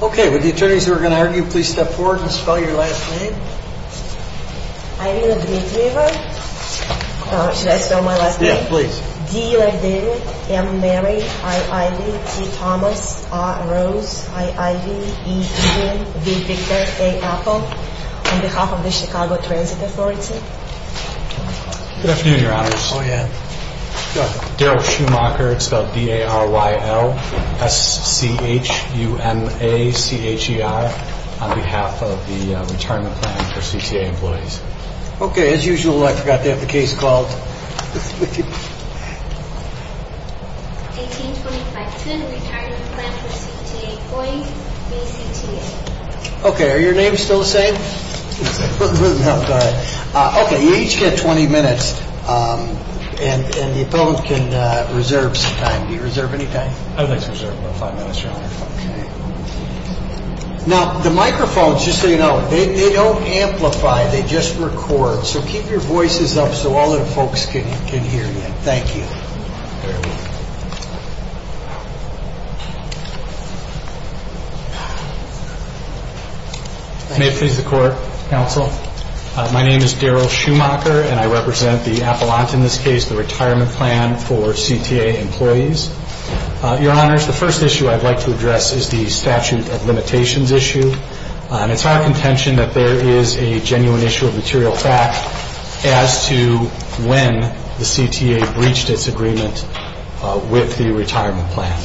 Okay, would the attorneys who are going to argue please step forward and spell your last name? Irina Dmitrieva. Oh, should I spell my last name? Yeah, please. D-U-L-L-A-V-I-N-T-H-O-M-A-S-E-R-O-S-E-I-V-E-N-V-I-C-T-E-R-A-P-P-L on behalf of the Chicago Transit Authority. Good afternoon, Your Honors. Oh, yeah. Go ahead. Darrell Schumacher. It's spelled D-A-R-Y-L-S-C-H-U-M-A-C-H-E-R on behalf of the Retirement Plan for CTA Employees. Okay, as usual, I forgot to have the case called. 1825-2, Retirement Plan for CTA Employees v. CTA. Okay, are your names still the same? No, go ahead. Okay, you each get 20 minutes, and the appellant can reserve some time. Do you reserve any time? I would like to reserve about five minutes, Your Honor. Okay. Now, the microphones, just so you know, they don't amplify. They just record. So keep your voices up so all the folks can hear you. Thank you. May it please the Court, Counsel. My name is Darrell Schumacher, and I represent the appellant in this case, the Retirement Plan for CTA Employees. Your Honors, the first issue I'd like to address is the statute of limitations issue. It's our contention that there is a genuine issue of material fact as to when the CTA breached its agreement with the retirement plan.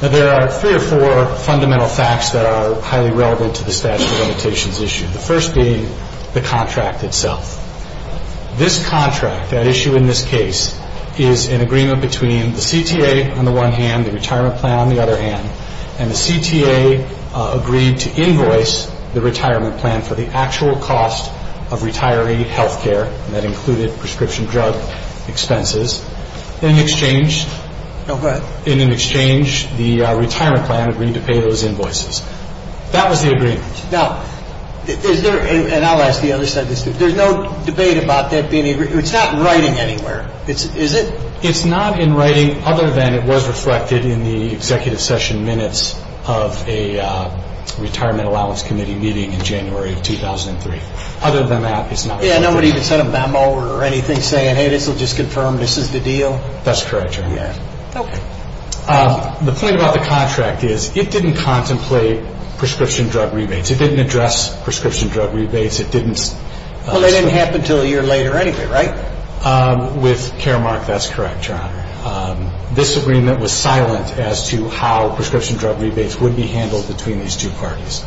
Now, there are three or four fundamental facts that are highly relevant to the statute of limitations issue, the first being the contract itself. This contract at issue in this case is an agreement between the CTA on the one hand, the retirement plan on the other hand, and the CTA agreed to invoice the retirement plan for the actual cost of retiree health care, and that included prescription drug expenses. In exchange, the retirement plan agreed to pay those invoices. That was the agreement. Now, is there, and I'll ask the other side of this, there's no debate about that being, it's not in writing anywhere, is it? It's not in writing other than it was reflected in the executive session minutes of a retirement allowance committee meeting in January of 2003. Other than that, it's not in writing. Yeah, nobody even sent a memo or anything saying, hey, this will just confirm this is the deal? That's correct, Your Honor. Okay. The point about the contract is it didn't contemplate prescription drug rebates. It didn't address prescription drug rebates. It didn't. Well, it didn't happen until a year later anyway, right? With Caremark, that's correct, Your Honor. This agreement was silent as to how prescription drug rebates would be handled between these two parties.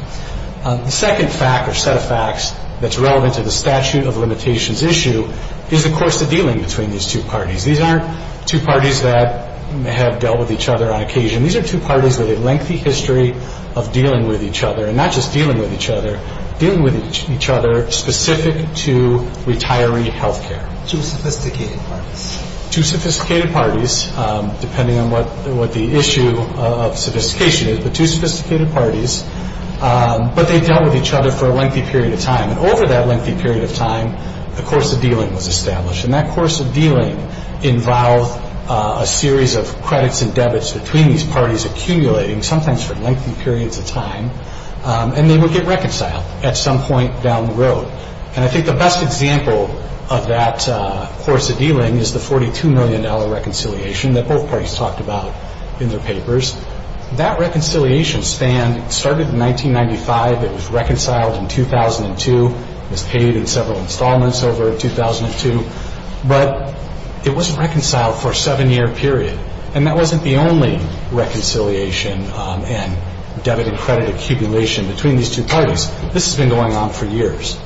The second fact or set of facts that's relevant to the statute of limitations issue is, of course, the dealing between these two parties. These aren't two parties that have dealt with each other on occasion. These are two parties with a lengthy history of dealing with each other, and not just dealing with each other, dealing with each other specific to retiree health care. Two sophisticated parties. Two sophisticated parties, depending on what the issue of sophistication is, but two sophisticated parties, but they dealt with each other for a lengthy period of time. And over that lengthy period of time, a course of dealing was established. And that course of dealing involved a series of credits and debits between these parties accumulating, sometimes for lengthy periods of time, and they would get reconciled at some point down the road. And I think the best example of that course of dealing is the $42 million reconciliation that both parties talked about in their papers. That reconciliation span started in 1995. It was reconciled in 2002. It was paid in several installments over 2002. But it wasn't reconciled for a seven-year period, and that wasn't the only reconciliation and debit and credit accumulation between these two parties. This has been going on for years.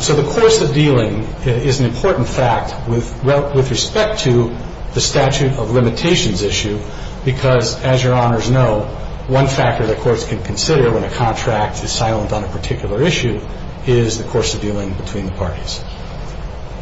So the course of dealing is an important fact with respect to the statute of limitations issue, because, as Your Honors know, one factor that courts can consider when a contract is silent on a particular issue is the course of dealing between the parties.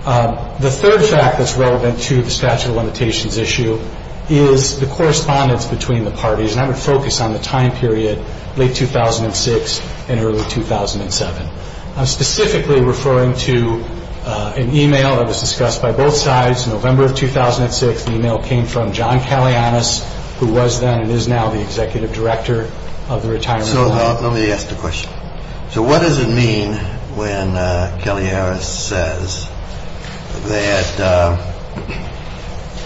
The third fact that's relevant to the statute of limitations issue is the correspondence between the parties, and I would focus on the time period late 2006 and early 2007. I'm specifically referring to an email that was discussed by both sides in November of 2006. The email came from John Kalianas, who was then and is now the executive director of the retirement plan. So let me ask the question. So what does it mean when Kelly Harris says that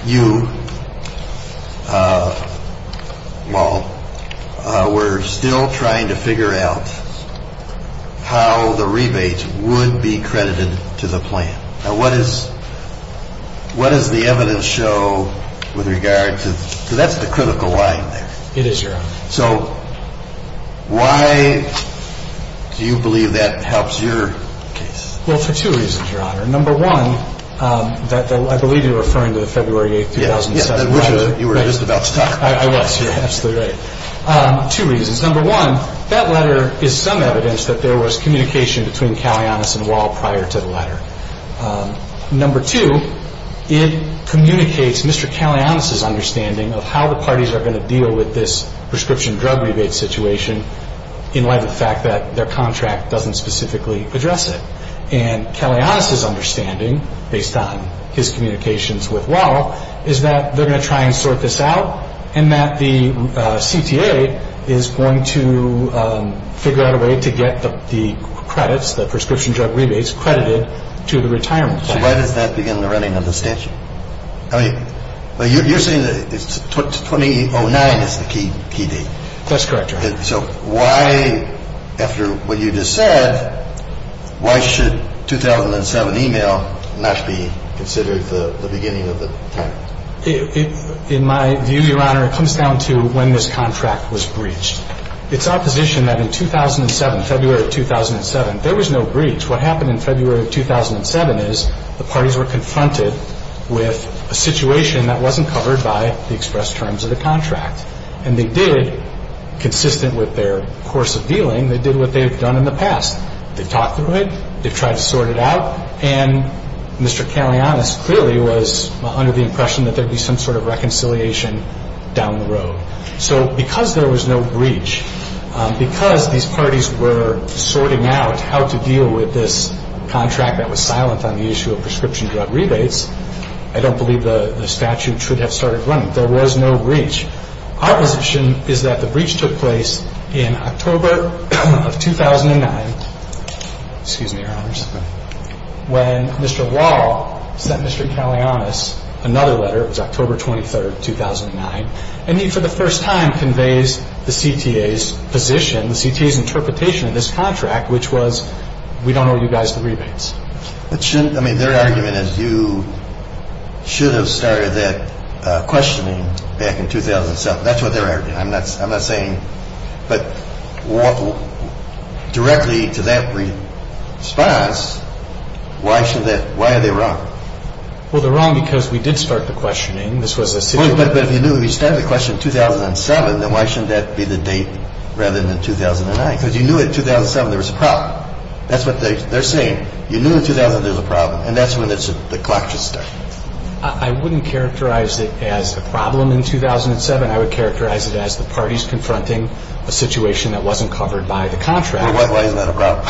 you, while we're still trying to figure out how the rebates would be credited to the plan? Now, what does the evidence show with regard to that? So that's the critical line there. It is, Your Honor. So why do you believe that helps your case? Well, for two reasons, Your Honor. Number one, I believe you're referring to the February 8, 2007 letter. Yeah, you were just about to talk about that. I was. You're absolutely right. Two reasons. Number one, that letter is some evidence that there was communication between Kalianas and Wall prior to the letter. Number two, it communicates Mr. Kalianas' understanding of how the parties are going to deal with this prescription drug rebate situation in light of the fact that their contract doesn't specifically address it. And Kalianas' understanding, based on his communications with Wall, is that they're going to try and sort this out and that the CTA is going to figure out a way to get the credits, the prescription drug rebates credited to the retirement plan. So why does that begin the running of the statute? You're saying that 2009 is the key date. That's correct, Your Honor. So why, after what you just said, why should 2007 email not be considered the beginning of the time? In my view, Your Honor, it comes down to when this contract was breached. It's our position that in 2007, February of 2007, there was no breach. What happened in February of 2007 is the parties were confronted with a situation that wasn't covered by the express terms of the contract. And they did, consistent with their course of dealing, they did what they've done in the past. They've talked through it. They've tried to sort it out. And Mr. Kalianas clearly was under the impression that there would be some sort of reconciliation down the road. So because there was no breach, because these parties were sorting out how to deal with this contract that was silent on the issue of prescription drug rebates, I don't believe the statute should have started running. There was no breach. Our position is that the breach took place in October of 2009, excuse me, Your Honors, when Mr. Wall sent Mr. Kalianas another letter. It was October 23, 2009. And he, for the first time, conveys the CTA's position, the CTA's interpretation of this contract, which was we don't owe you guys the rebates. But shouldn't, I mean, their argument is you should have started that questioning back in 2007. That's what their argument. I'm not saying, but directly to that response, why should that, why are they wrong? Well, they're wrong because we did start the questioning. This was a situation. But if you knew, if you started the question in 2007, then why shouldn't that be the date rather than 2009? Because you knew in 2007 there was a problem. That's what they're saying. You knew in 2007 there was a problem. And that's when the clock should start. I wouldn't characterize it as a problem in 2007. I would characterize it as the parties confronting a situation that wasn't covered by the contract. Well, why isn't that a problem?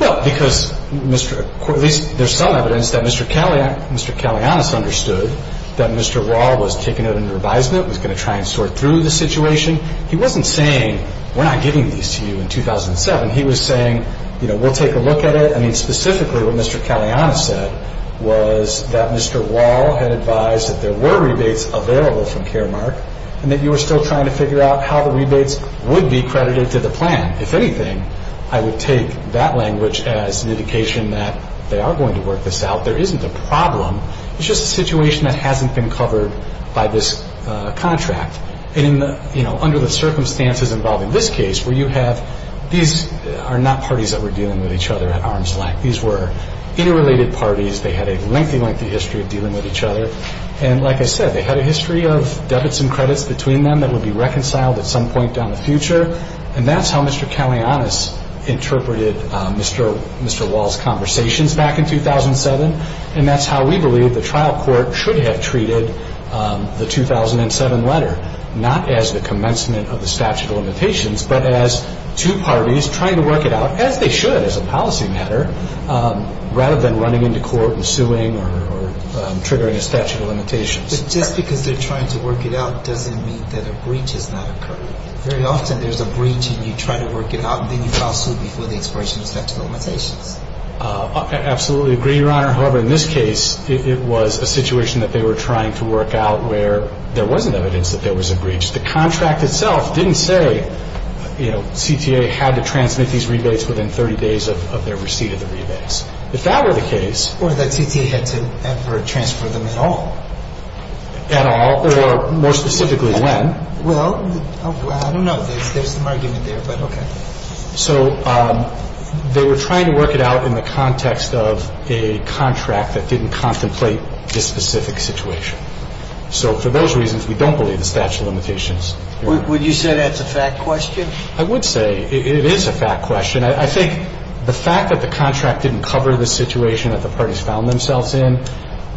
Well, because, Mr. Corley, there's some evidence that Mr. Kalianas understood that Mr. Wall was taking out a revised note, was going to try and sort through the situation. He wasn't saying we're not giving these to you in 2007. He was saying, you know, we'll take a look at it. I mean, specifically what Mr. Kalianas said was that Mr. Wall had advised that there were rebates available from Caremark and that you were still trying to figure out how the rebates would be credited to the plan. If anything, I would take that language as an indication that they are going to work this out. There isn't a problem. It's just a situation that hasn't been covered by this contract. And, you know, under the circumstances involving this case where you have these are not parties that were dealing with each other at arm's length. These were interrelated parties. They had a lengthy, lengthy history of dealing with each other. And like I said, they had a history of debits and credits between them that would be reconciled at some point down the future. And that's how Mr. Kalianas interpreted Mr. Wall's conversations back in 2007. And that's how we believe the trial court should have treated the 2007 letter, not as the commencement of the statute of limitations, but as two parties trying to work it out, as they should as a policy matter, rather than running into court and suing or triggering a statute of limitations. But just because they're trying to work it out doesn't mean that a breach has not occurred. Very often there's a breach and you try to work it out and then you file suit before the expiration of statute of limitations. Absolutely agree, Your Honor. However, in this case, it was a situation that they were trying to work out where there wasn't evidence that there was a breach. The contract itself didn't say, you know, CTA had to transmit these rebates within 30 days of their receipt of the rebates. If that were the case. Or that CTA had to ever transfer them at all. At all or more specifically when. Well, I don't know. There's some argument there, but okay. So they were trying to work it out in the context of a contract that didn't contemplate this specific situation. So for those reasons, we don't believe the statute of limitations. Would you say that's a fact question? I would say it is a fact question. I think the fact that the contract didn't cover the situation that the parties found themselves in,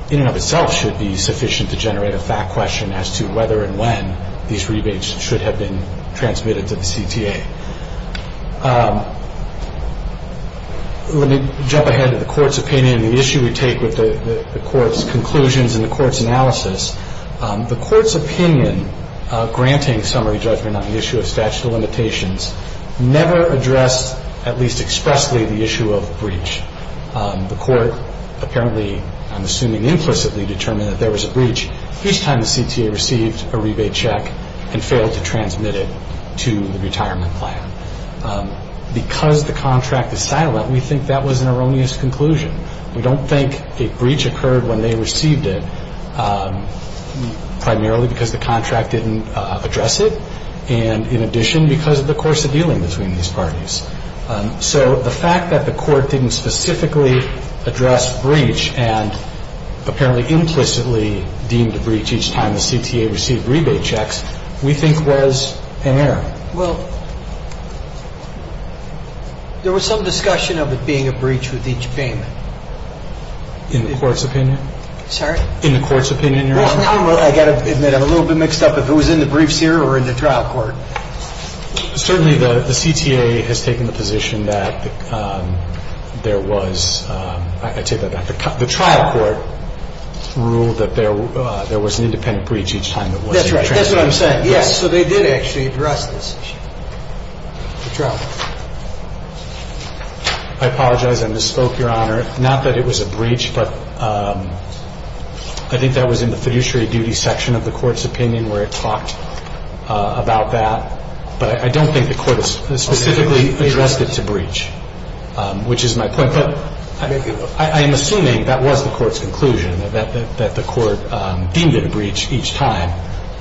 in and of itself should be sufficient to generate a fact question as to whether and when these rebates should have been transmitted to the CTA. Let me jump ahead to the court's opinion. The issue we take with the court's conclusions and the court's analysis, the court's opinion granting summary judgment on the issue of statute of limitations never addressed, at least expressly, the issue of breach. The court apparently, I'm assuming implicitly, determined that there was a breach. Each time the CTA received a rebate check and failed to transmit it to the retirement plan. Because the contract is silent, we think that was an erroneous conclusion. We don't think a breach occurred when they received it primarily because the contract didn't address it and in addition because of the course of dealing between these parties. So the fact that the court didn't specifically address breach and apparently implicitly deemed a breach each time the CTA received rebate checks, we think was an error. Well, there was some discussion of it being a breach with each payment. In the court's opinion? Sorry? In the court's opinion. I've got to admit I'm a little bit mixed up if it was in the briefs here or in the trial court. Certainly the CTA has taken the position that there was, I take that back, the trial court ruled that there was an independent breach each time it wasn't transmitted. That's right. That's what I'm saying. Yes. So they did actually address this issue. The trial court. I apologize. I misspoke, Your Honor. Not that it was a breach, but I think that was in the fiduciary duty section of the court's opinion where it talked about that. But I don't think the court specifically addressed it to breach, which is my point. But I am assuming that was the court's conclusion, that the court deemed it a breach each time.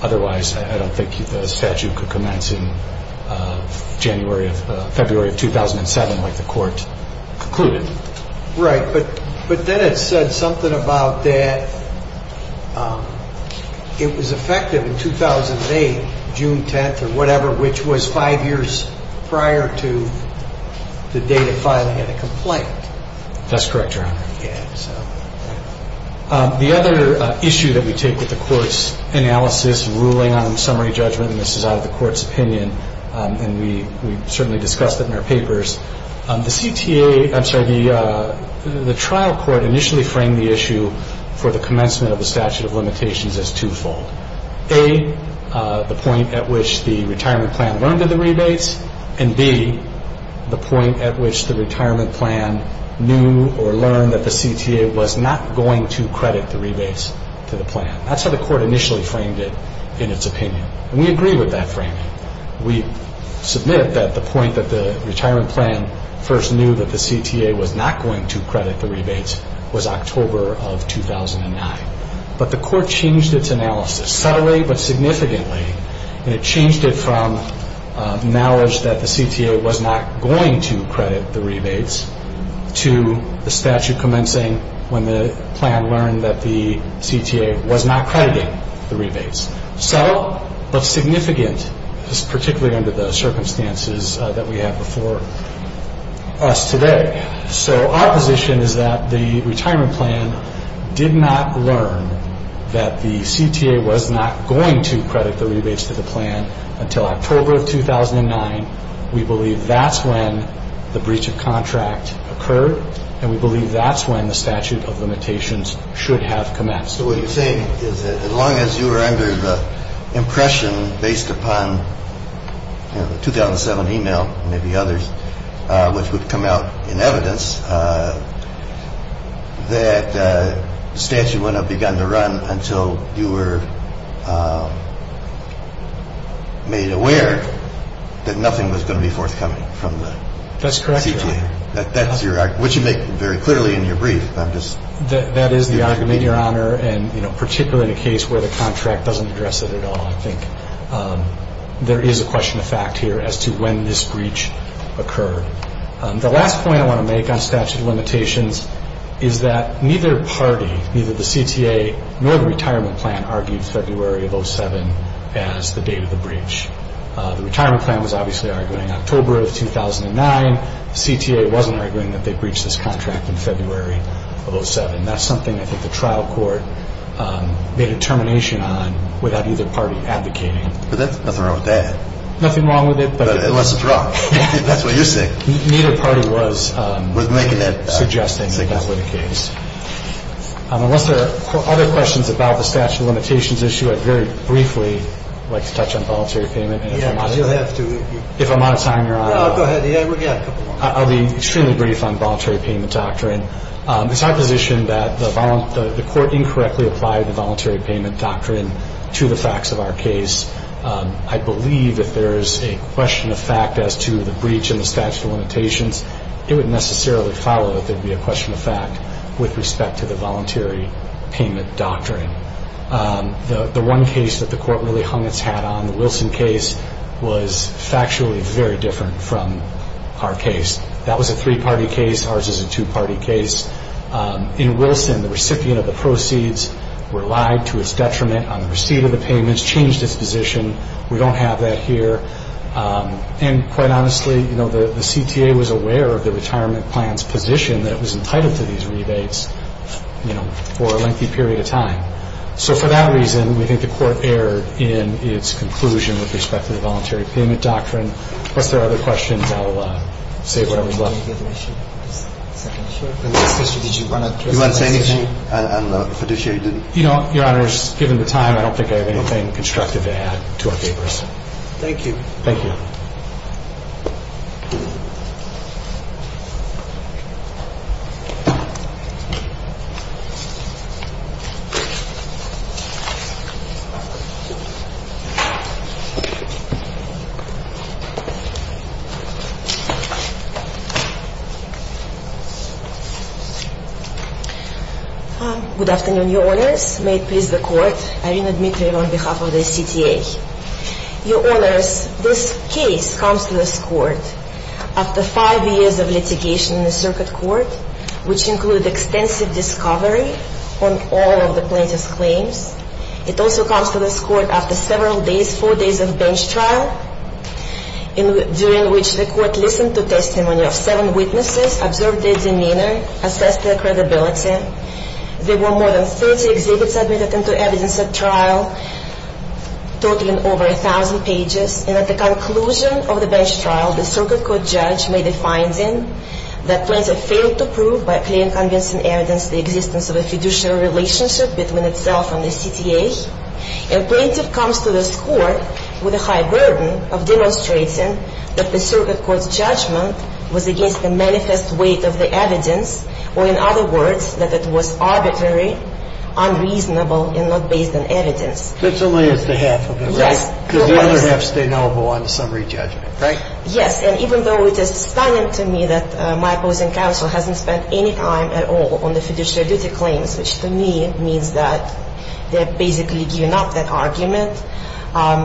Otherwise, I don't think the statute could commence in January of February of 2007 like the court concluded. Right. But then it said something about that it was effective in 2008, June 10th or whatever, which was five years prior to the date of filing of the complaint. That's correct, Your Honor. Yes. The other issue that we take with the court's analysis ruling on summary judgment, and this is out of the court's opinion, and we certainly discussed it in our papers, the trial court initially framed the issue for the commencement of the statute of limitations as twofold. A, the point at which the retirement plan learned of the rebates, and B, the point at which the retirement plan knew or learned that the CTA was not going to credit the rebates to the plan. That's how the court initially framed it in its opinion. And we agree with that framing. We submit that the point that the retirement plan first knew that the CTA was not going to credit the rebates was October of 2009. But the court changed its analysis subtly but significantly, and it changed it from knowledge that the CTA was not going to credit the rebates to the statute commencing when the plan learned that the CTA was not crediting the rebates. Subtle but significant, particularly under the circumstances that we have before us today. So our position is that the retirement plan did not learn that the CTA was not going to credit the rebates to the plan until October of 2009. We believe that's when the breach of contract occurred, and we believe that's when the statute of limitations should have commenced. So what you're saying is that as long as you were under the impression based upon the 2007 email, maybe others, which would come out in evidence, that the statute wouldn't have begun to run until you were made aware that nothing was going to be forthcoming from the CTA. That's correct, Your Honor. That's your argument, which you make very clearly in your brief. That is the argument, Your Honor, and particularly in a case where the contract doesn't address it at all, I think there is a question of fact here as to when this breach occurred. The last point I want to make on statute of limitations is that neither party, neither the CTA nor the retirement plan, argued February of 2007 as the date of the breach. The retirement plan was obviously arguing October of 2009. The CTA wasn't arguing that they breached this contract in February of 2007. That's something I think the trial court made a determination on without either party advocating. But that's nothing wrong with that. Nothing wrong with it. Unless it's wrong. That's what you're saying. Neither party was suggesting that with the case. Unless there are other questions about the statute of limitations issue, I'd very briefly like to touch on voluntary payment. You'll have to. If I'm out of time, Your Honor. Go ahead. I'll be extremely brief on voluntary payment doctrine. It's our position that the court incorrectly applied the voluntary payment doctrine to the facts of our case. I believe if there is a question of fact as to the breach in the statute of limitations, it wouldn't necessarily follow that there would be a question of fact with respect to the voluntary payment doctrine. The one case that the court really hung its hat on, the Wilson case, was factually very different from our case. That was a three-party case. Ours is a two-party case. In Wilson, the recipient of the proceeds relied to its detriment on the receipt of the payments, changed its position. We don't have that here. And quite honestly, you know, the CTA was aware of the retirement plan's position that it was entitled to these rebates, you know, for a lengthy period of time. So for that reason, we think the court erred in its conclusion with respect to the voluntary payment doctrine. Unless there are other questions, I'll save whatever's left. Do you want to say anything? And the fiduciary didn't. You know, Your Honors, given the time, I don't think I have anything constructive to add to our papers. Thank you. Thank you. Good afternoon, Your Honors. May it please the court, Irina Dmitrieva on behalf of the CTA. Your Honors, this case comes to this court after five years of litigation in the circuit court, which included extensive discovery on all of the plaintiff's claims. It also comes to this court after several days, four days of bench trial, during which the court listened to testimony of seven witnesses, observed their demeanor, assessed their credibility. There were more than 30 exhibits admitted into evidence at trial, totaling over 1,000 pages. And at the conclusion of the bench trial, the circuit court judge made a finding that plaintiff failed to prove by clear and convincing evidence the existence of a fiduciary relationship between itself and the CTA. And plaintiff comes to this court with a high burden of demonstrating that the circuit court's judgment was against the manifest weight of the evidence, or in other words, that it was arbitrary, unreasonable, and not based on evidence. This only is the half of it, right? Yes. Because the other half stay null and void on the summary judgment, right? Yes. And even though it is stunning to me that my opposing counsel hasn't spent any time at all on the fiduciary duty claims, which to me means that they're basically giving up that argument. I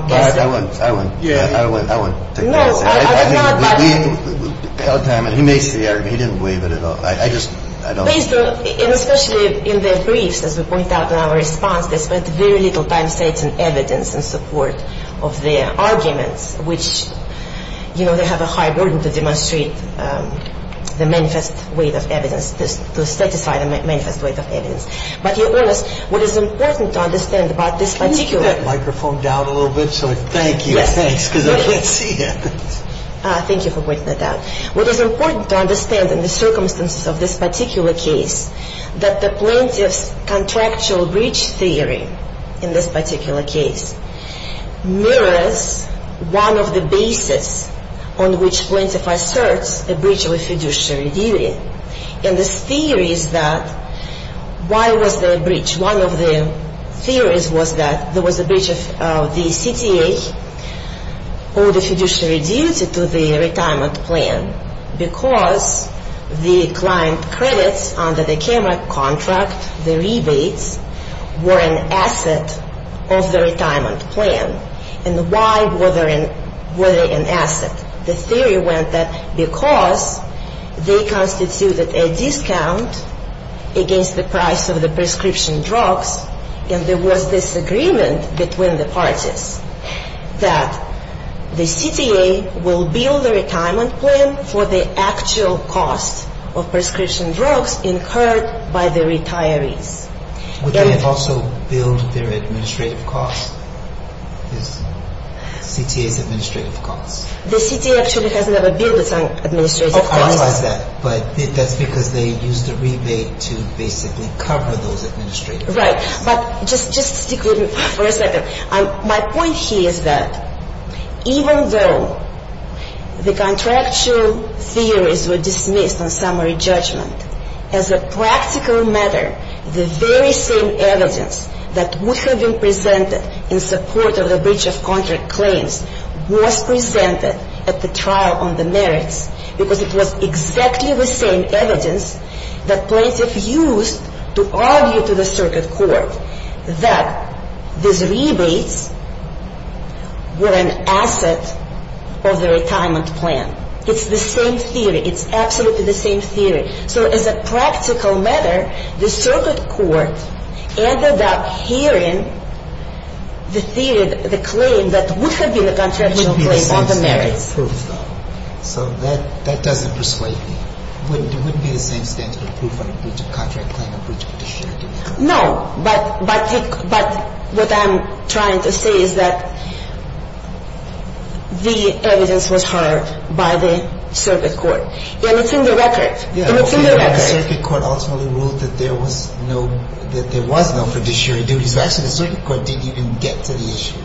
wouldn't. I wouldn't. I wouldn't. No. I would not. God damn it. He makes the argument. He didn't waive it at all. I just don't. And especially in their briefs, as we point out in our response, they spent very little time stating evidence in support of their arguments, which, you know, they have a high burden to demonstrate the manifest weight of evidence, to satisfy the manifest weight of evidence. But to be honest, what is important to understand about this particular – Can you put that microphone down a little bit so I can thank you? Yes. Thanks, because I can't see you. Thank you for pointing that out. What is important to understand in the circumstances of this particular case, that the plaintiff's contractual breach theory in this particular case mirrors one of the bases on which plaintiff asserts a breach of a fiduciary duty. And this theory is that why was there a breach? One of the theories was that there was a breach of the CTA or the fiduciary duty to the retirement plan because the client credits under the camera contract, the rebates, were an asset of the retirement plan. And why were they an asset? The theory went that because they constituted a discount against the price of the prescription drugs, and there was this agreement between the parties that the CTA will bill the retirement plan for the actual cost of prescription drugs incurred by the retirees. Would they have also billed their administrative costs, the CTA's administrative costs? The CTA actually has never billed its administrative costs. I realize that, but that's because they used the rebate to basically cover those administrative costs. Right. But just stick with me for a second. My point here is that even though the contractual theories were dismissed on summary judgment, as a practical matter, the very same evidence that would have been presented in support of the breach of contract claims was presented at the trial on the merits because it was exactly the same evidence that plaintiffs used to argue to the circuit court that these rebates were an asset of the retirement plan. It's the same theory. It's absolutely the same theory. So as a practical matter, the circuit court ended up hearing the claim that would have been a contractual claim on the merits. So that doesn't persuade me. It wouldn't be the same standard proof on a breach of contract claim, a breach of fiduciary duties. No, but what I'm trying to say is that the evidence was heard by the circuit court. And it's in the record. The circuit court ultimately ruled that there was no fiduciary duties. Actually, the circuit court didn't even get to the issue.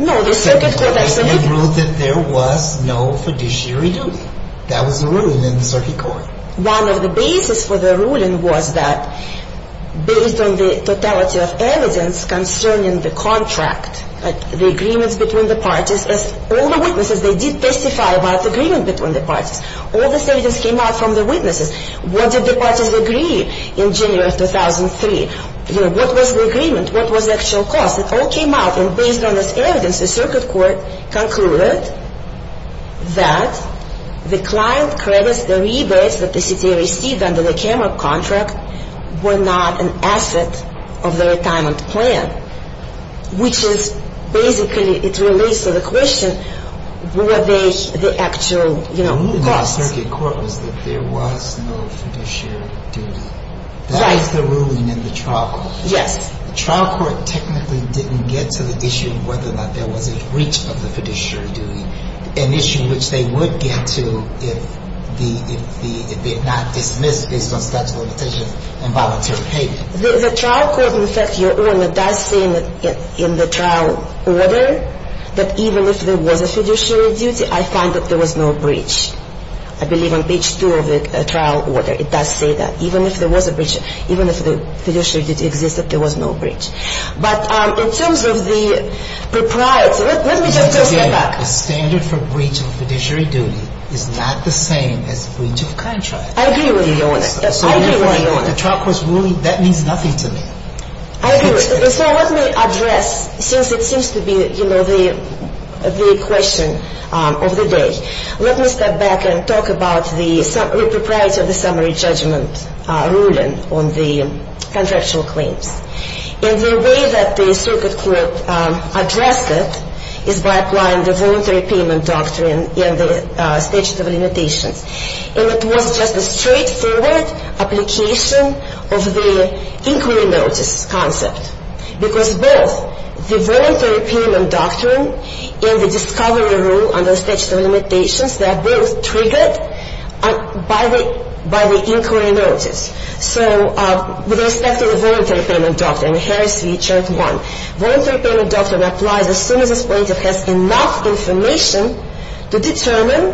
It ruled that there was no fiduciary duty. That was the ruling in the circuit court. One of the bases for the ruling was that, based on the totality of evidence concerning the contract, the agreements between the parties, all the witnesses, they did testify about the agreement between the parties. All the statements came out from the witnesses. What did the parties agree in January of 2003? What was the agreement? What was the actual cost? It all came out, and based on this evidence, the circuit court concluded that the client credits, the rebates that the CTA received under the camera contract, were not an asset of the retirement plan, which is basically, it relates to the question, were they the actual costs? The ruling in the circuit court was that there was no fiduciary duty. That is the ruling in the trial court. Yes. The trial court technically didn't get to the issue of whether or not there was a breach of the fiduciary duty, an issue which they would get to if they're not dismissed based on statute of limitations and voluntary payment. The trial court, in fact, your Honor, does say in the trial order that even if there was a fiduciary duty, I find that there was no breach. I believe on page 2 of the trial order, it does say that. Even if the fiduciary duty existed, there was no breach. But in terms of the propriety, let me just step back. The standard for breach of fiduciary duty is not the same as breach of contract. I agree with you, Your Honor. I agree with you, Your Honor. So the trial court's ruling, that means nothing to me. I agree with you. So let me address, since it seems to be, you know, the question of the day, let me step back and talk about the propriety of the summary judgment ruling on the contractual claims. And the way that the circuit court addressed it is by applying the voluntary payment doctrine in the statute of limitations. And it was just a straightforward application of the inquiry notice concept because both the voluntary payment doctrine and the discovery rule under the statute of limitations, they are both triggered by the inquiry notice. So with respect to the voluntary payment doctrine, Harris v. Church 1, voluntary payment doctrine applies as soon as this plaintiff has enough information to determine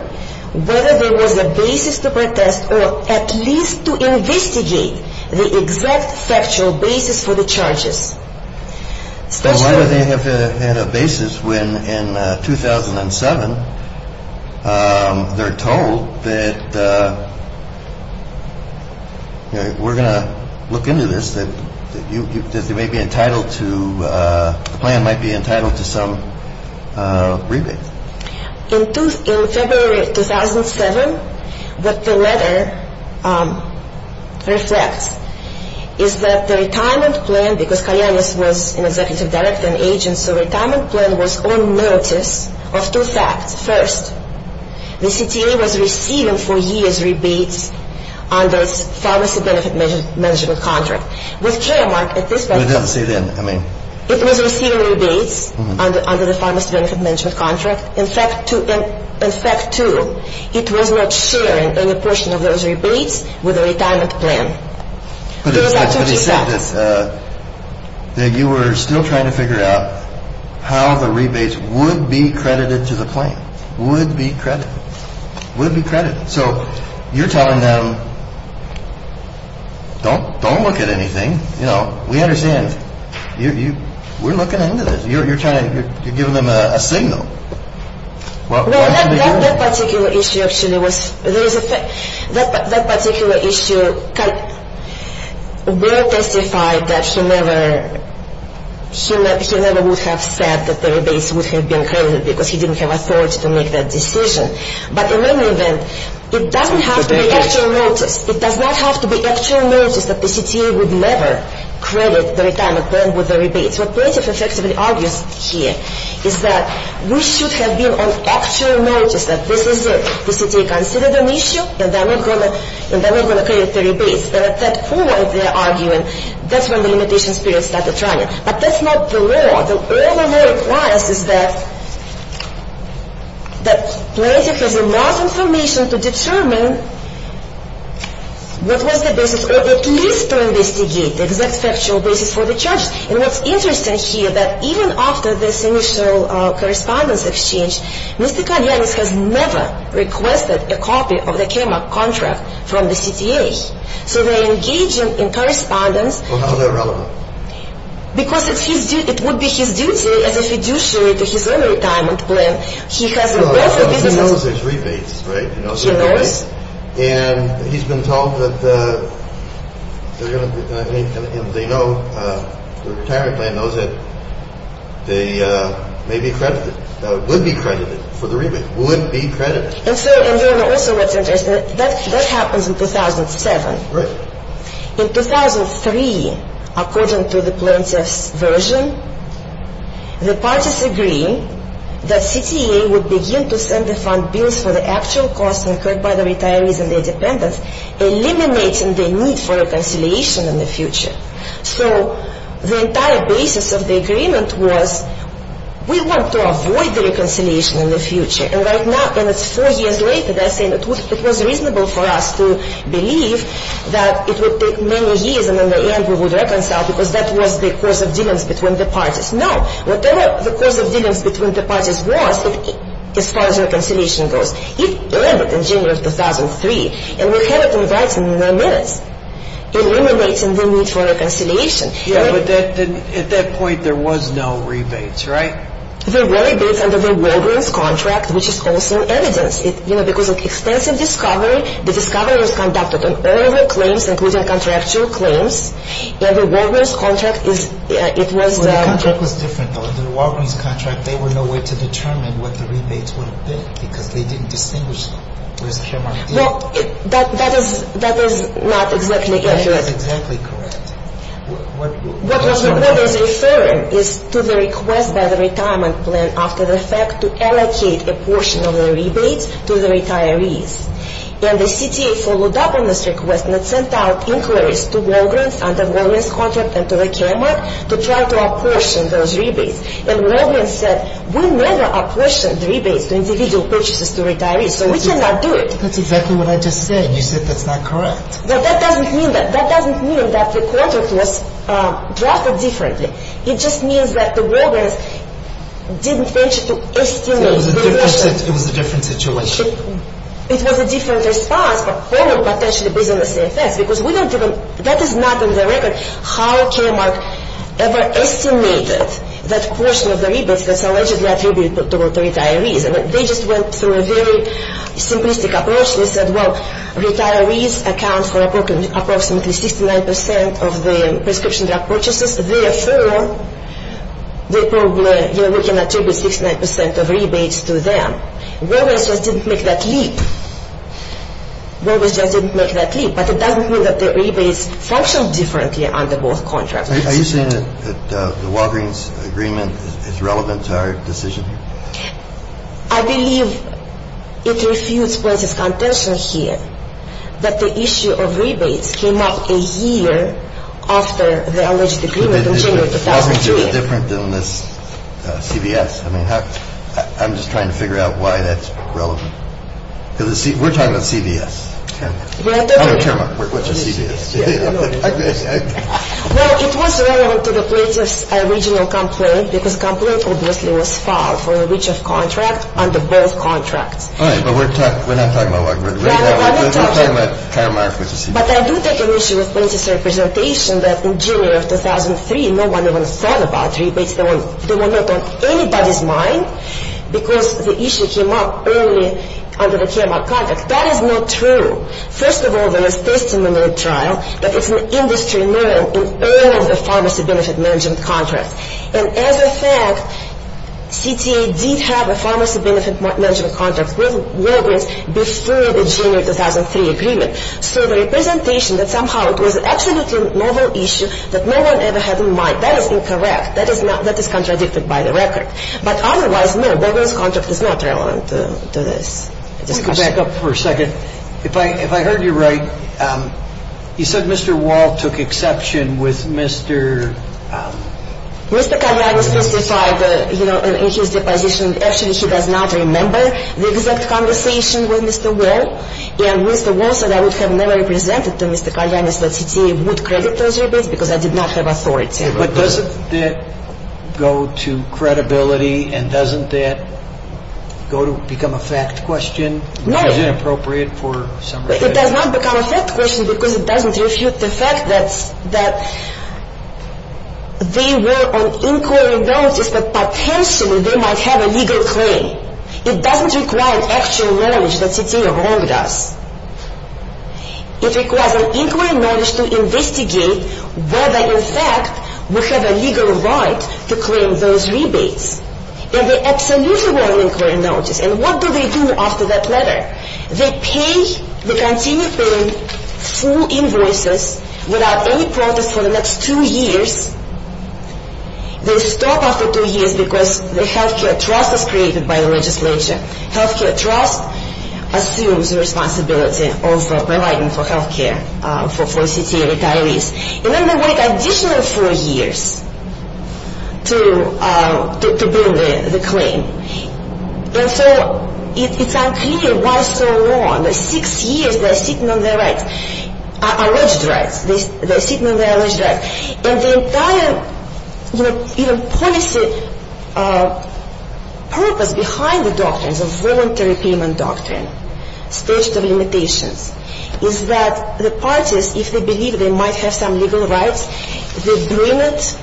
whether there was a basis to protest or at least to investigate the exact factual basis for the charges. So why would they have had a basis when in 2007 they're told that, you know, we're going to look into this, that they may be entitled to, the plan might be entitled to some rebate? In February of 2007, what the letter reflects is that the retirement plan, because Kayanis was an executive director and agent, so retirement plan was on notice of two facts. First, the CTA was receiving for years rebates under its pharmacy benefit management contract. With Claremont at this point, it was receiving rebates under the pharmacy benefit management contract. In fact, too, it was not sharing any portion of those rebates with the retirement plan. But he said that you were still trying to figure out how the rebates would be credited to the plan, would be credited, would be credited. So you're telling them, don't look at anything. You know, we understand. We're looking into this. You're trying to give them a signal. Well, that particular issue actually was, that particular issue will testify that he never would have said that the rebates would have been credited because he didn't have authority to make that decision. But in any event, it doesn't have to be actual notice. It does not have to be actual notice that the CTA would never credit the retirement plan with the rebates. What Plaintiff effectively argues here is that we should have been on actual notice that this is it. The CTA considered an issue, and they're not going to credit the rebates. They're at that point, they're arguing, that's when the limitations period started running. But that's not the law. All the law requires is that Plaintiff has enough information to determine what was the basis, or at least to investigate the exact factual basis for the charges. And what's interesting here, that even after this initial correspondence exchange, Mr. Kalyanis has never requested a copy of the KMAC contract from the CTA. So they're engaging in correspondence. Well, how are they relevant? Because it's his duty, it would be his duty as a fiduciary to his own retirement plan. He has a business... Well, he knows there's rebates, right? He knows. And he's been told that they're going to, and they know, the retirement plan knows that they may be credited, would be credited for the rebate, would be credited. And so, and you know also what's interesting, that happens in 2007. Right. In 2003, according to the Plaintiff's version, the parties agree that CTA would begin to send the fund bills for the actual costs incurred by the retirees and their dependents, eliminating the need for reconciliation in the future. So the entire basis of the agreement was we want to avoid the reconciliation in the future. And right now, and it's four years later, they're saying it was reasonable for us to believe that it would take many years and in the end we would reconcile because that was the course of dealings between the parties. No. Whatever the course of dealings between the parties was, as far as reconciliation goes, it ended in January of 2003. And we have it in writing in nine minutes, eliminating the need for reconciliation. Yeah, but at that point there was no rebates, right? There were rebates under the Walgreens contract, which is also evidence. You know, because of extensive discovery, the discovery was conducted on all the claims, including contractual claims, and the Walgreens contract is, it was... The contract was different though. Under the Walgreens contract, they were nowhere to determine what the rebates would have been because they didn't distinguish them. Well, that is not exactly accurate. That is exactly correct. What was referred is to the request by the retirement plan after the fact to allocate a portion of the rebates to the retirees. And the CTA followed up on this request and it sent out inquiries to Walgreens to try to apportion those rebates. And Walgreens said, we never apportioned rebates to individual purchases to retirees, so we cannot do it. That's exactly what I just said. You said that's not correct. But that doesn't mean that. That doesn't mean that the contract was drafted differently. It just means that the Walgreens didn't venture to estimate the portion. It was a different situation. It was a different response for all the potential business effects because that is not in the record how Kmart ever estimated that portion of the rebates that's allegedly attributed to retirees. They just went through a very simplistic approach. They said, well, retirees account for approximately 69% of the prescription drug purchases. Therefore, we can attribute 69% of rebates to them. Walgreens just didn't make that leap. Walgreens just didn't make that leap. But it doesn't mean that the rebates functioned differently under both contracts. Are you saying that the Walgreens agreement is relevant to our decision? I believe it refutes Prince's contention here that the issue of rebates came up a year after the alleged agreement in January 2003. But isn't it different than this CVS? I mean, I'm just trying to figure out why that's relevant. Because we're talking about CVS. Well, it was relevant to the plaintiff's original complaint because the complaint obviously was filed for a reach-off contract under both contracts. All right, but we're not talking about Walgreens. We're talking about Karmark with the CVS. But I do take an issue with Prince's representation that in January of 2003, no one even thought about rebates. They were not on anybody's mind because the issue came up early under the Karmark contract. That is not true. First of all, there is testimony in the trial that it's an industry-known and early pharmacy benefit management contract. And as a fact, CTA did have a pharmacy benefit management contract with Walgreens before the January 2003 agreement. So the representation that somehow it was an absolutely novel issue that no one ever had in mind, that is incorrect. That is contradicted by the record. But otherwise, no, Walgreens' contract is not relevant to this discussion. Let me back up for a second. If I heard you right, you said Mr. Wall took exception with Mr. Mr. Kalyanis testified in his deposition. Actually, he does not remember the exact conversation with Mr. Wall. And Mr. Wall said I would have never presented to Mr. Kalyanis that CTA would credit those rebates because I did not have authority. But doesn't that go to credibility and doesn't that go to become a fact question? No. Is it appropriate for some reason? It does not become a fact question because it doesn't refute the fact that they were on inquiry notice but potentially they might have a legal claim. It doesn't require actual knowledge that CTA wronged us. It requires an inquiry knowledge to investigate whether in fact we have a legal right to claim those rebates. And they absolutely were on inquiry notice. And what do they do after that letter? They pay, they continue paying full invoices without any protest for the next two years. They stop after two years because the health care trust is created by the legislature. Health care trust assumes the responsibility of providing for health care for CTA retirees. And then they wait additional four years to bring the claim. And so it's unclear why so long. Six years they're sitting on their rights, alleged rights. They're sitting on their alleged rights. And the entire policy purpose behind the doctrines of voluntary payment doctrine, is that the parties, if they believe they might have some legal rights, they bring it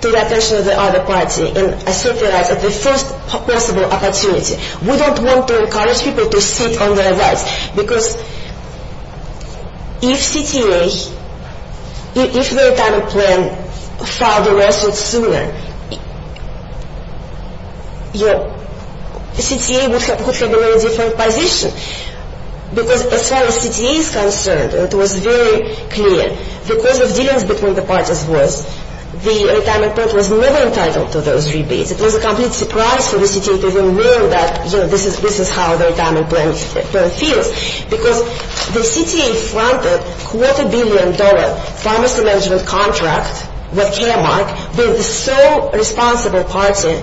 to the attention of the other party and assert their rights at the first possible opportunity. We don't want to encourage people to sit on their rights. Because if CTA, if the retirement plan filed the result sooner, CTA would have been in a different position. Because as far as CTA is concerned, it was very clear. The cause of dealings between the parties was the retirement plan was never entitled to those rebates. It was a complete surprise for the CTA to even know that, you know, this is how their retirement plan feels. Because the CTA fronted quarter billion dollar pharmacy management contract with Caremark, with the sole responsible party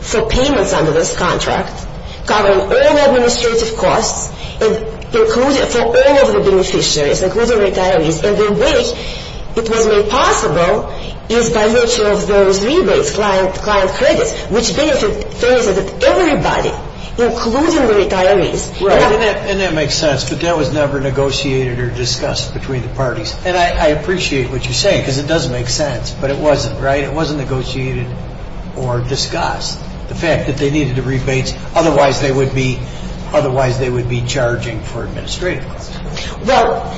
for payments under this contract, covering all administrative costs for all of the beneficiaries, including retirees. And the way it was made possible is by virtue of those rebates, client credits, which benefited everybody, including the retirees. Right. And that makes sense. But that was never negotiated or discussed between the parties. And I appreciate what you're saying, because it does make sense. But it wasn't, right? It wasn't negotiated or discussed, the fact that they needed the rebates. Otherwise, they would be charging for administrative costs. Well,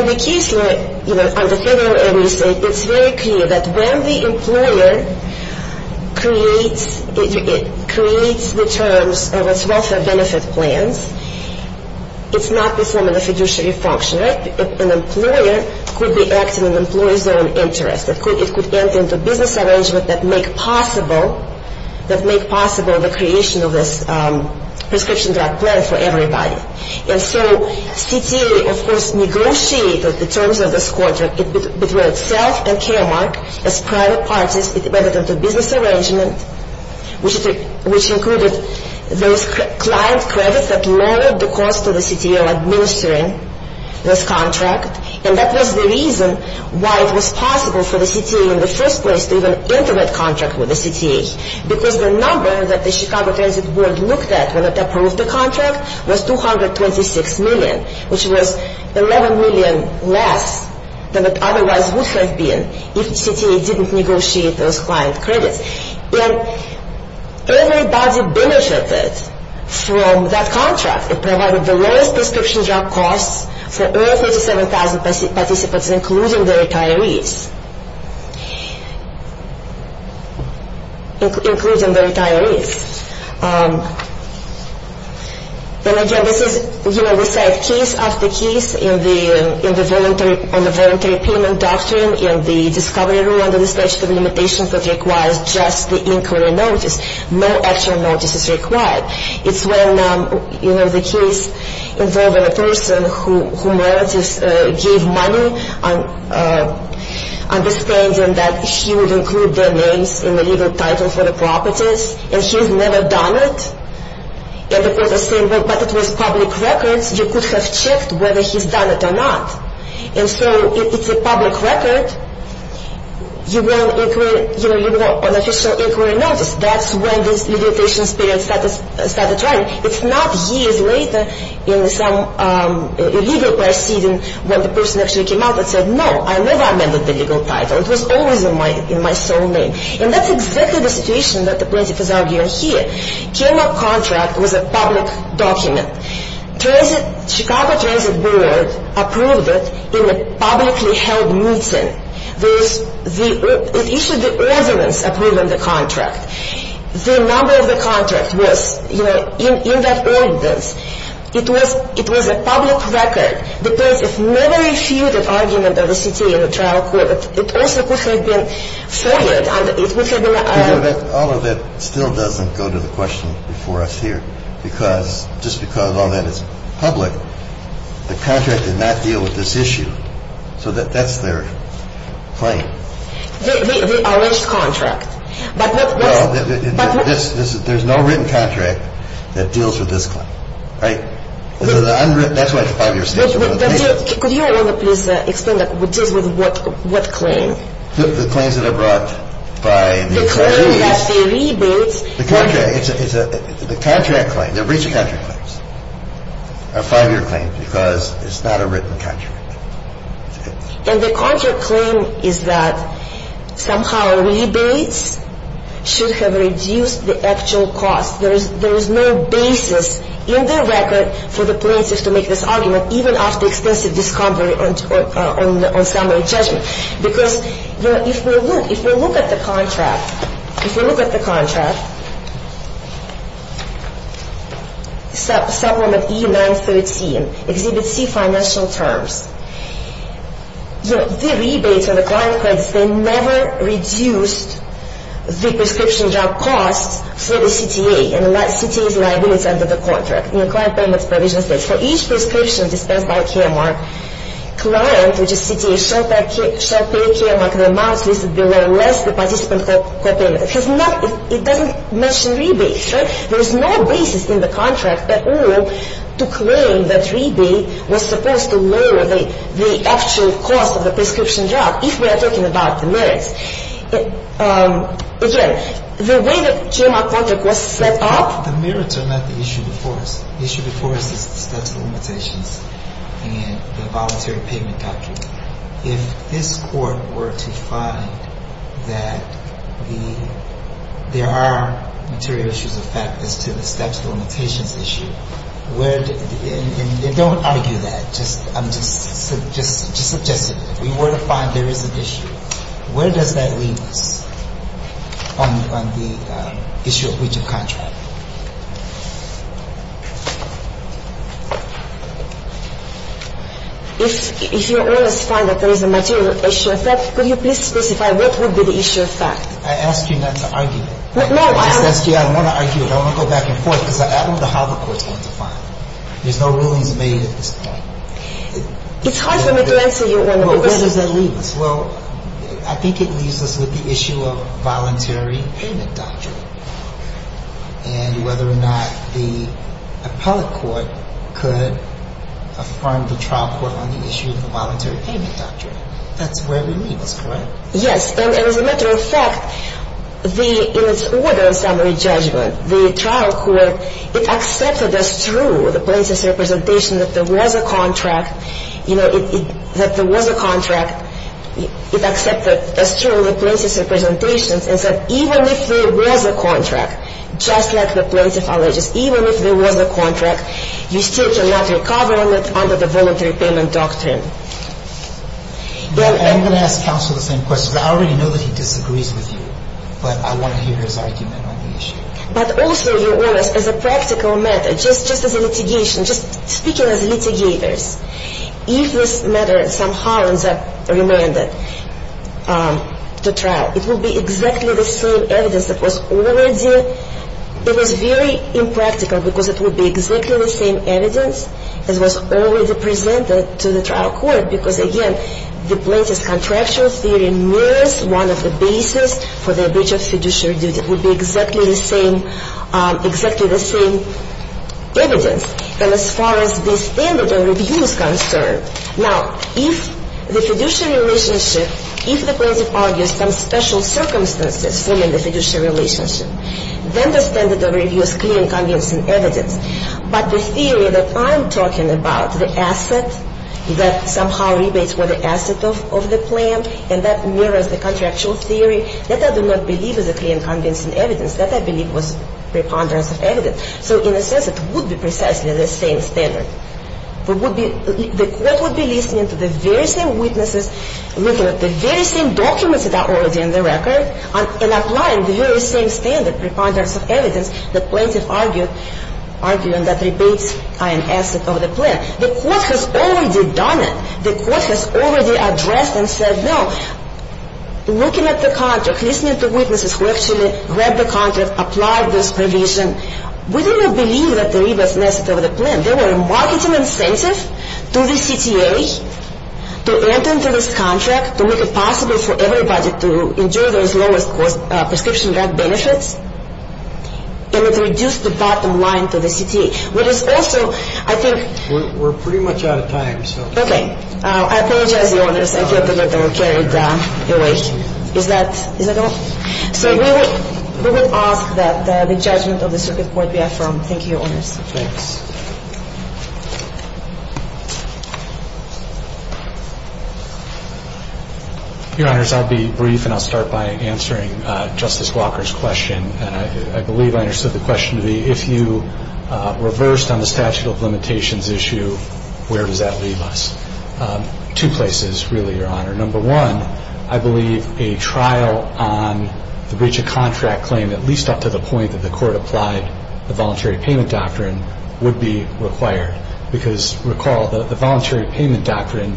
in the case where, you know, under federal agency, it's very clear that when the employer creates the terms of its welfare benefit plans, it's not performing a fiduciary function, right? An employer could be acting in an employer's own interest. It could enter into business arrangements that make possible, that make possible the creation of this prescription drug plan for everybody. And so CTA, of course, negotiated the terms of this contract between itself and KAMARC as private parties. It went into business arrangement, which included those client credits that lowered the cost to the CTA of administering this contract. And that was the reason why it was possible for the CTA in the first place to even enter that contract with the CTA, because the number that the Chicago Transit Board looked at when it approved the contract was 226 million, which was 11 million less than it otherwise would have been if CTA didn't negotiate those client credits. And everybody benefited from that contract. It provided the lowest prescription drug costs for all 37,000 participants, including the retirees. And, again, this is, you know, we said case after case on the voluntary payment doctrine and the discovery rule under the statute of limitations that requires just the inquiry notice. No actual notice is required. It's when, you know, the case involving a person whom relatives gave money, understanding that he would include their names in the legal title for the properties, and he's never done it, and the court is saying, well, but it was public records. You could have checked whether he's done it or not. And so it's a public record. You want an inquiry, you know, you want an official inquiry notice. That's when this limitation period started running. And it's not years later in some illegal proceeding when the person actually came out and said, no, I never amended the legal title. It was always in my sole name. And that's exactly the situation that the plaintiff is arguing here. Kerner contract was a public document. Transit, Chicago Transit Board approved it in a publicly held meeting. It issued the ordinance approving the contract. The number of the contract was, you know, in that ordinance. It was a public record. The plaintiff never issued an argument at the city in the trial court. It also could have been forwarded. And it could have been a... But all of it still doesn't go to the question before us here. Because just because all that is public, the contract did not deal with this issue. So that's their claim. The alleged contract. But what's... There's no written contract that deals with this claim. Right? The unwritten... That's why it's a five-year statute. Could you please explain what deals with what claim? The claims that are brought by the attorneys... The claim that they rebate... The contract. It's a contract claim. They're breaching contract claims. A five-year claim. Because it's not a written contract. And the contract claim is that somehow rebates should have reduced the actual cost. There is no basis in their record for the plaintiffs to make this argument, even after extensive discovery on summary judgment. Because if we look at the contract... If we look at the contract... Supplement E-913. Exhibit C, financial terms. The rebates on the client claims, they never reduced the prescription drug costs for the CTA. And the CTA is liability under the contract. And the client payments provision states, for each prescription dispensed by a care mark, client, which is CTA, shall pay a care mark the amount listed below, less the participant co-payment. It doesn't mention rebates. There is no basis in the contract at all to claim that rebate was supposed to lower the actual cost of the prescription drug, if we are talking about the merits. Again, the way the GMR contract was set up... The merits are not the issue before us. The issue before us is the statute of limitations and the voluntary payment doctrine. If this Court were to find that there are material issues of fact as to the statute of limitations issue, where... And don't argue that. I'm just suggesting. If we were to find there is an issue, where does that leave us on the issue of breach of contract? If you were to find that there is a material issue of fact, could you please specify what would be the issue of fact? I asked you not to argue that. No, I'm... I asked you, I don't want to argue it. I don't want to go back and forth because I don't know how the Court is going to find it. There's no rulings made at this point. It's hard for me to answer you on the... Well, where does that leave us? Well, I think it leaves us with the issue of voluntary payment doctrine. And whether or not the appellate court could affirm the trial court on the issue of the voluntary payment doctrine. That's where we leave us, correct? Yes, and as a matter of fact, in its order of summary judgment, the trial court, it accepted as true the plaintiff's representation that there was a contract. You know, that there was a contract. It accepted as true the plaintiff's representation and said, even if there was a contract, just like the plaintiff alleges, even if there was a contract, you still cannot recover on it under the voluntary payment doctrine. I'm going to ask counsel the same question. I already know that he disagrees with you, but I want to hear his argument on the issue. But also, your Honor, as a practical matter, just as a litigation, just speaking as litigators, if this matter somehow ends up remanded to trial, it will be exactly the same evidence that was already, it was very impractical because it would be exactly the same evidence that was already presented to the trial court because, again, the plaintiff's contractual theory mirrors one of the basis for the breach of fiduciary duty. It would be exactly the same, exactly the same evidence. And as far as the standard of review is concerned, now, if the fiduciary relationship, if the plaintiff argues some special circumstances forming the fiduciary relationship, then the standard of review is clear and convincing evidence. But the theory that I'm talking about, the asset that somehow rebates for the asset of the plan, and that mirrors the contractual theory, that I do not believe is a clear and convincing evidence. So in a sense, it would be precisely the same standard. It would be, the court would be listening to the very same witnesses, looking at the very same documents that are already in the record, and applying the very same standard preponderance of evidence the plaintiff argued, arguing that rebates are an asset of the plan. The court has already done it. The court has already addressed and said, no, looking at the contract, listening to witnesses who actually read the contract, applied this provision, we do not believe that the rebates are an asset of the plan. They were a marketing incentive to the CTA to enter into this contract, to make it possible for everybody to enjoy those lowest cost prescription drug benefits, and it reduced the bottom line for the CTA. What is also, I think we're pretty much out of time. Okay. I apologize to the audience. I thought that they were carried away. Is that all? So we will ask that the judgment of the circuit court be affirmed. Thank you, Your Honors. Thanks. Your Honors, I'll be brief, and I'll start by answering Justice Walker's question, and I believe I understood the question to be, if you reversed on the statute of limitations issue, where does that leave us? Two places, really, Your Honor. Number one, I believe a trial on the breach of contract claim, at least up to the point that the court applied the voluntary payment doctrine, would be required. Because, recall, the voluntary payment doctrine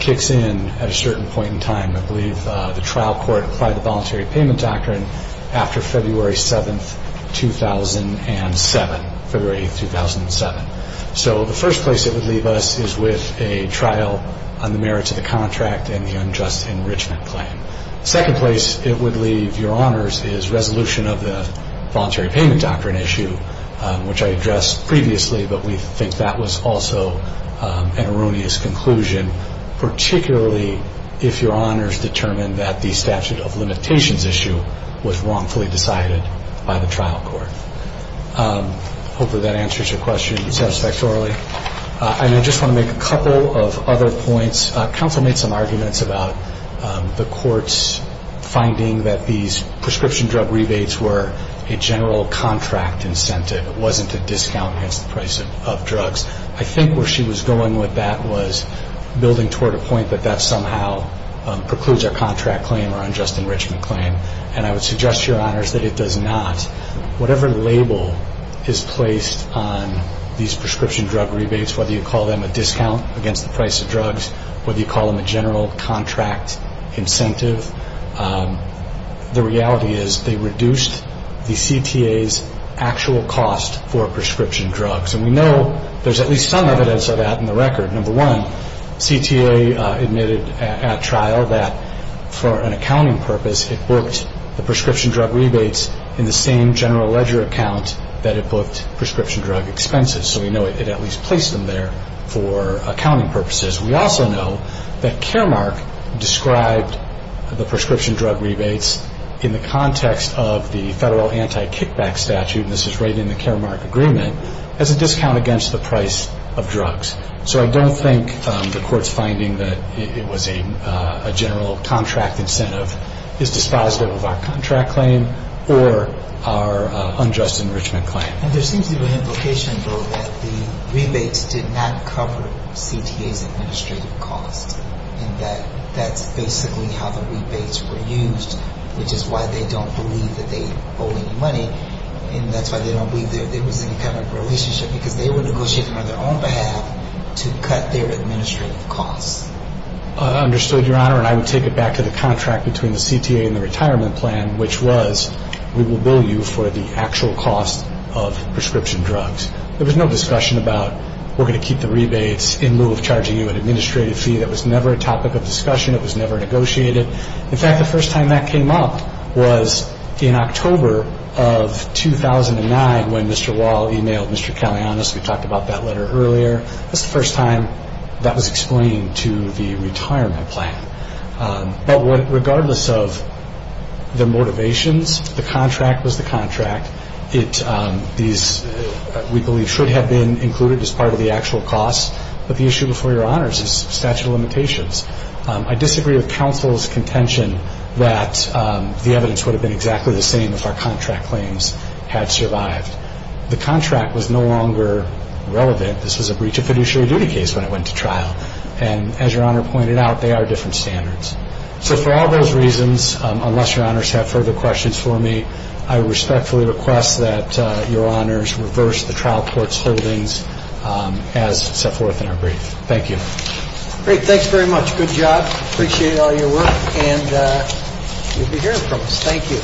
kicks in at a certain point in time. I believe the trial court applied the voluntary payment doctrine after February 7, 2007, February 8, 2007. So the first place it would leave us is with a trial on the merits of the contract and the unjust enrichment claim. Second place it would leave, Your Honors, is resolution of the voluntary payment doctrine issue, which I addressed previously, but we think that was also an erroneous conclusion, particularly if Your Honors determined that the statute of limitations issue was wrongfully decided by the trial court. Hopefully that answers your question satisfactorily. And I just want to make a couple of other points. Counsel made some arguments about the court's finding that these prescription drug rebates were a general contract incentive. It wasn't a discount against the price of drugs. I think where she was going with that was building toward a point that that somehow precludes our contract claim or unjust enrichment claim, and I would suggest to Your Honors that it does not. Whatever label is placed on these prescription drug rebates, whether you call them a discount against the price of drugs, whether you call them a general contract incentive, the reality is they reduced the CTA's actual cost for prescription drugs. And we know there's at least some evidence of that in the record. Number one, CTA admitted at trial that for an accounting purpose, it booked the prescription drug rebates in the same general ledger account that it booked prescription drug expenses. So we know it at least placed them there for accounting purposes. We also know that Caremark described the prescription drug rebates in the context of the federal anti-kickback statute, and this is right in the Caremark agreement, as a discount against the price of drugs. So I don't think the Court's finding that it was a general contract incentive is dispositive of our contract claim or our unjust enrichment claim. And there seems to be an implication, though, that the rebates did not cover CTA's administrative costs and that that's basically how the rebates were used, which is why they don't believe that they owe any money, and that's why they don't believe there was any kind of relationship, because they were negotiating on their own behalf to cut their administrative costs. I understood, Your Honor, and I would take it back to the contract between the CTA and the retirement plan, which was we will bill you for the actual cost of prescription drugs. There was no discussion about we're going to keep the rebates in lieu of charging you an administrative fee. That was never a topic of discussion. It was never negotiated. In fact, the first time that came up was in October of 2009 when Mr. Wall emailed Mr. Callionis. We talked about that letter earlier. That's the first time that was explained to the retirement plan. But regardless of the motivations, the contract was the contract. These, we believe, should have been included as part of the actual cost, but the issue before Your Honors is statute of limitations. I disagree with counsel's contention that the evidence would have been exactly the same if our contract claims had survived. The contract was no longer relevant. This was a breach of fiduciary duty case when it went to trial. And as Your Honor pointed out, they are different standards. So for all those reasons, unless Your Honors have further questions for me, I respectfully request that Your Honors reverse the trial court's holdings as set forth in our brief. Thank you. Great. Thanks very much. Good job. Appreciate all your work. And you'll be hearing from us. Thank you.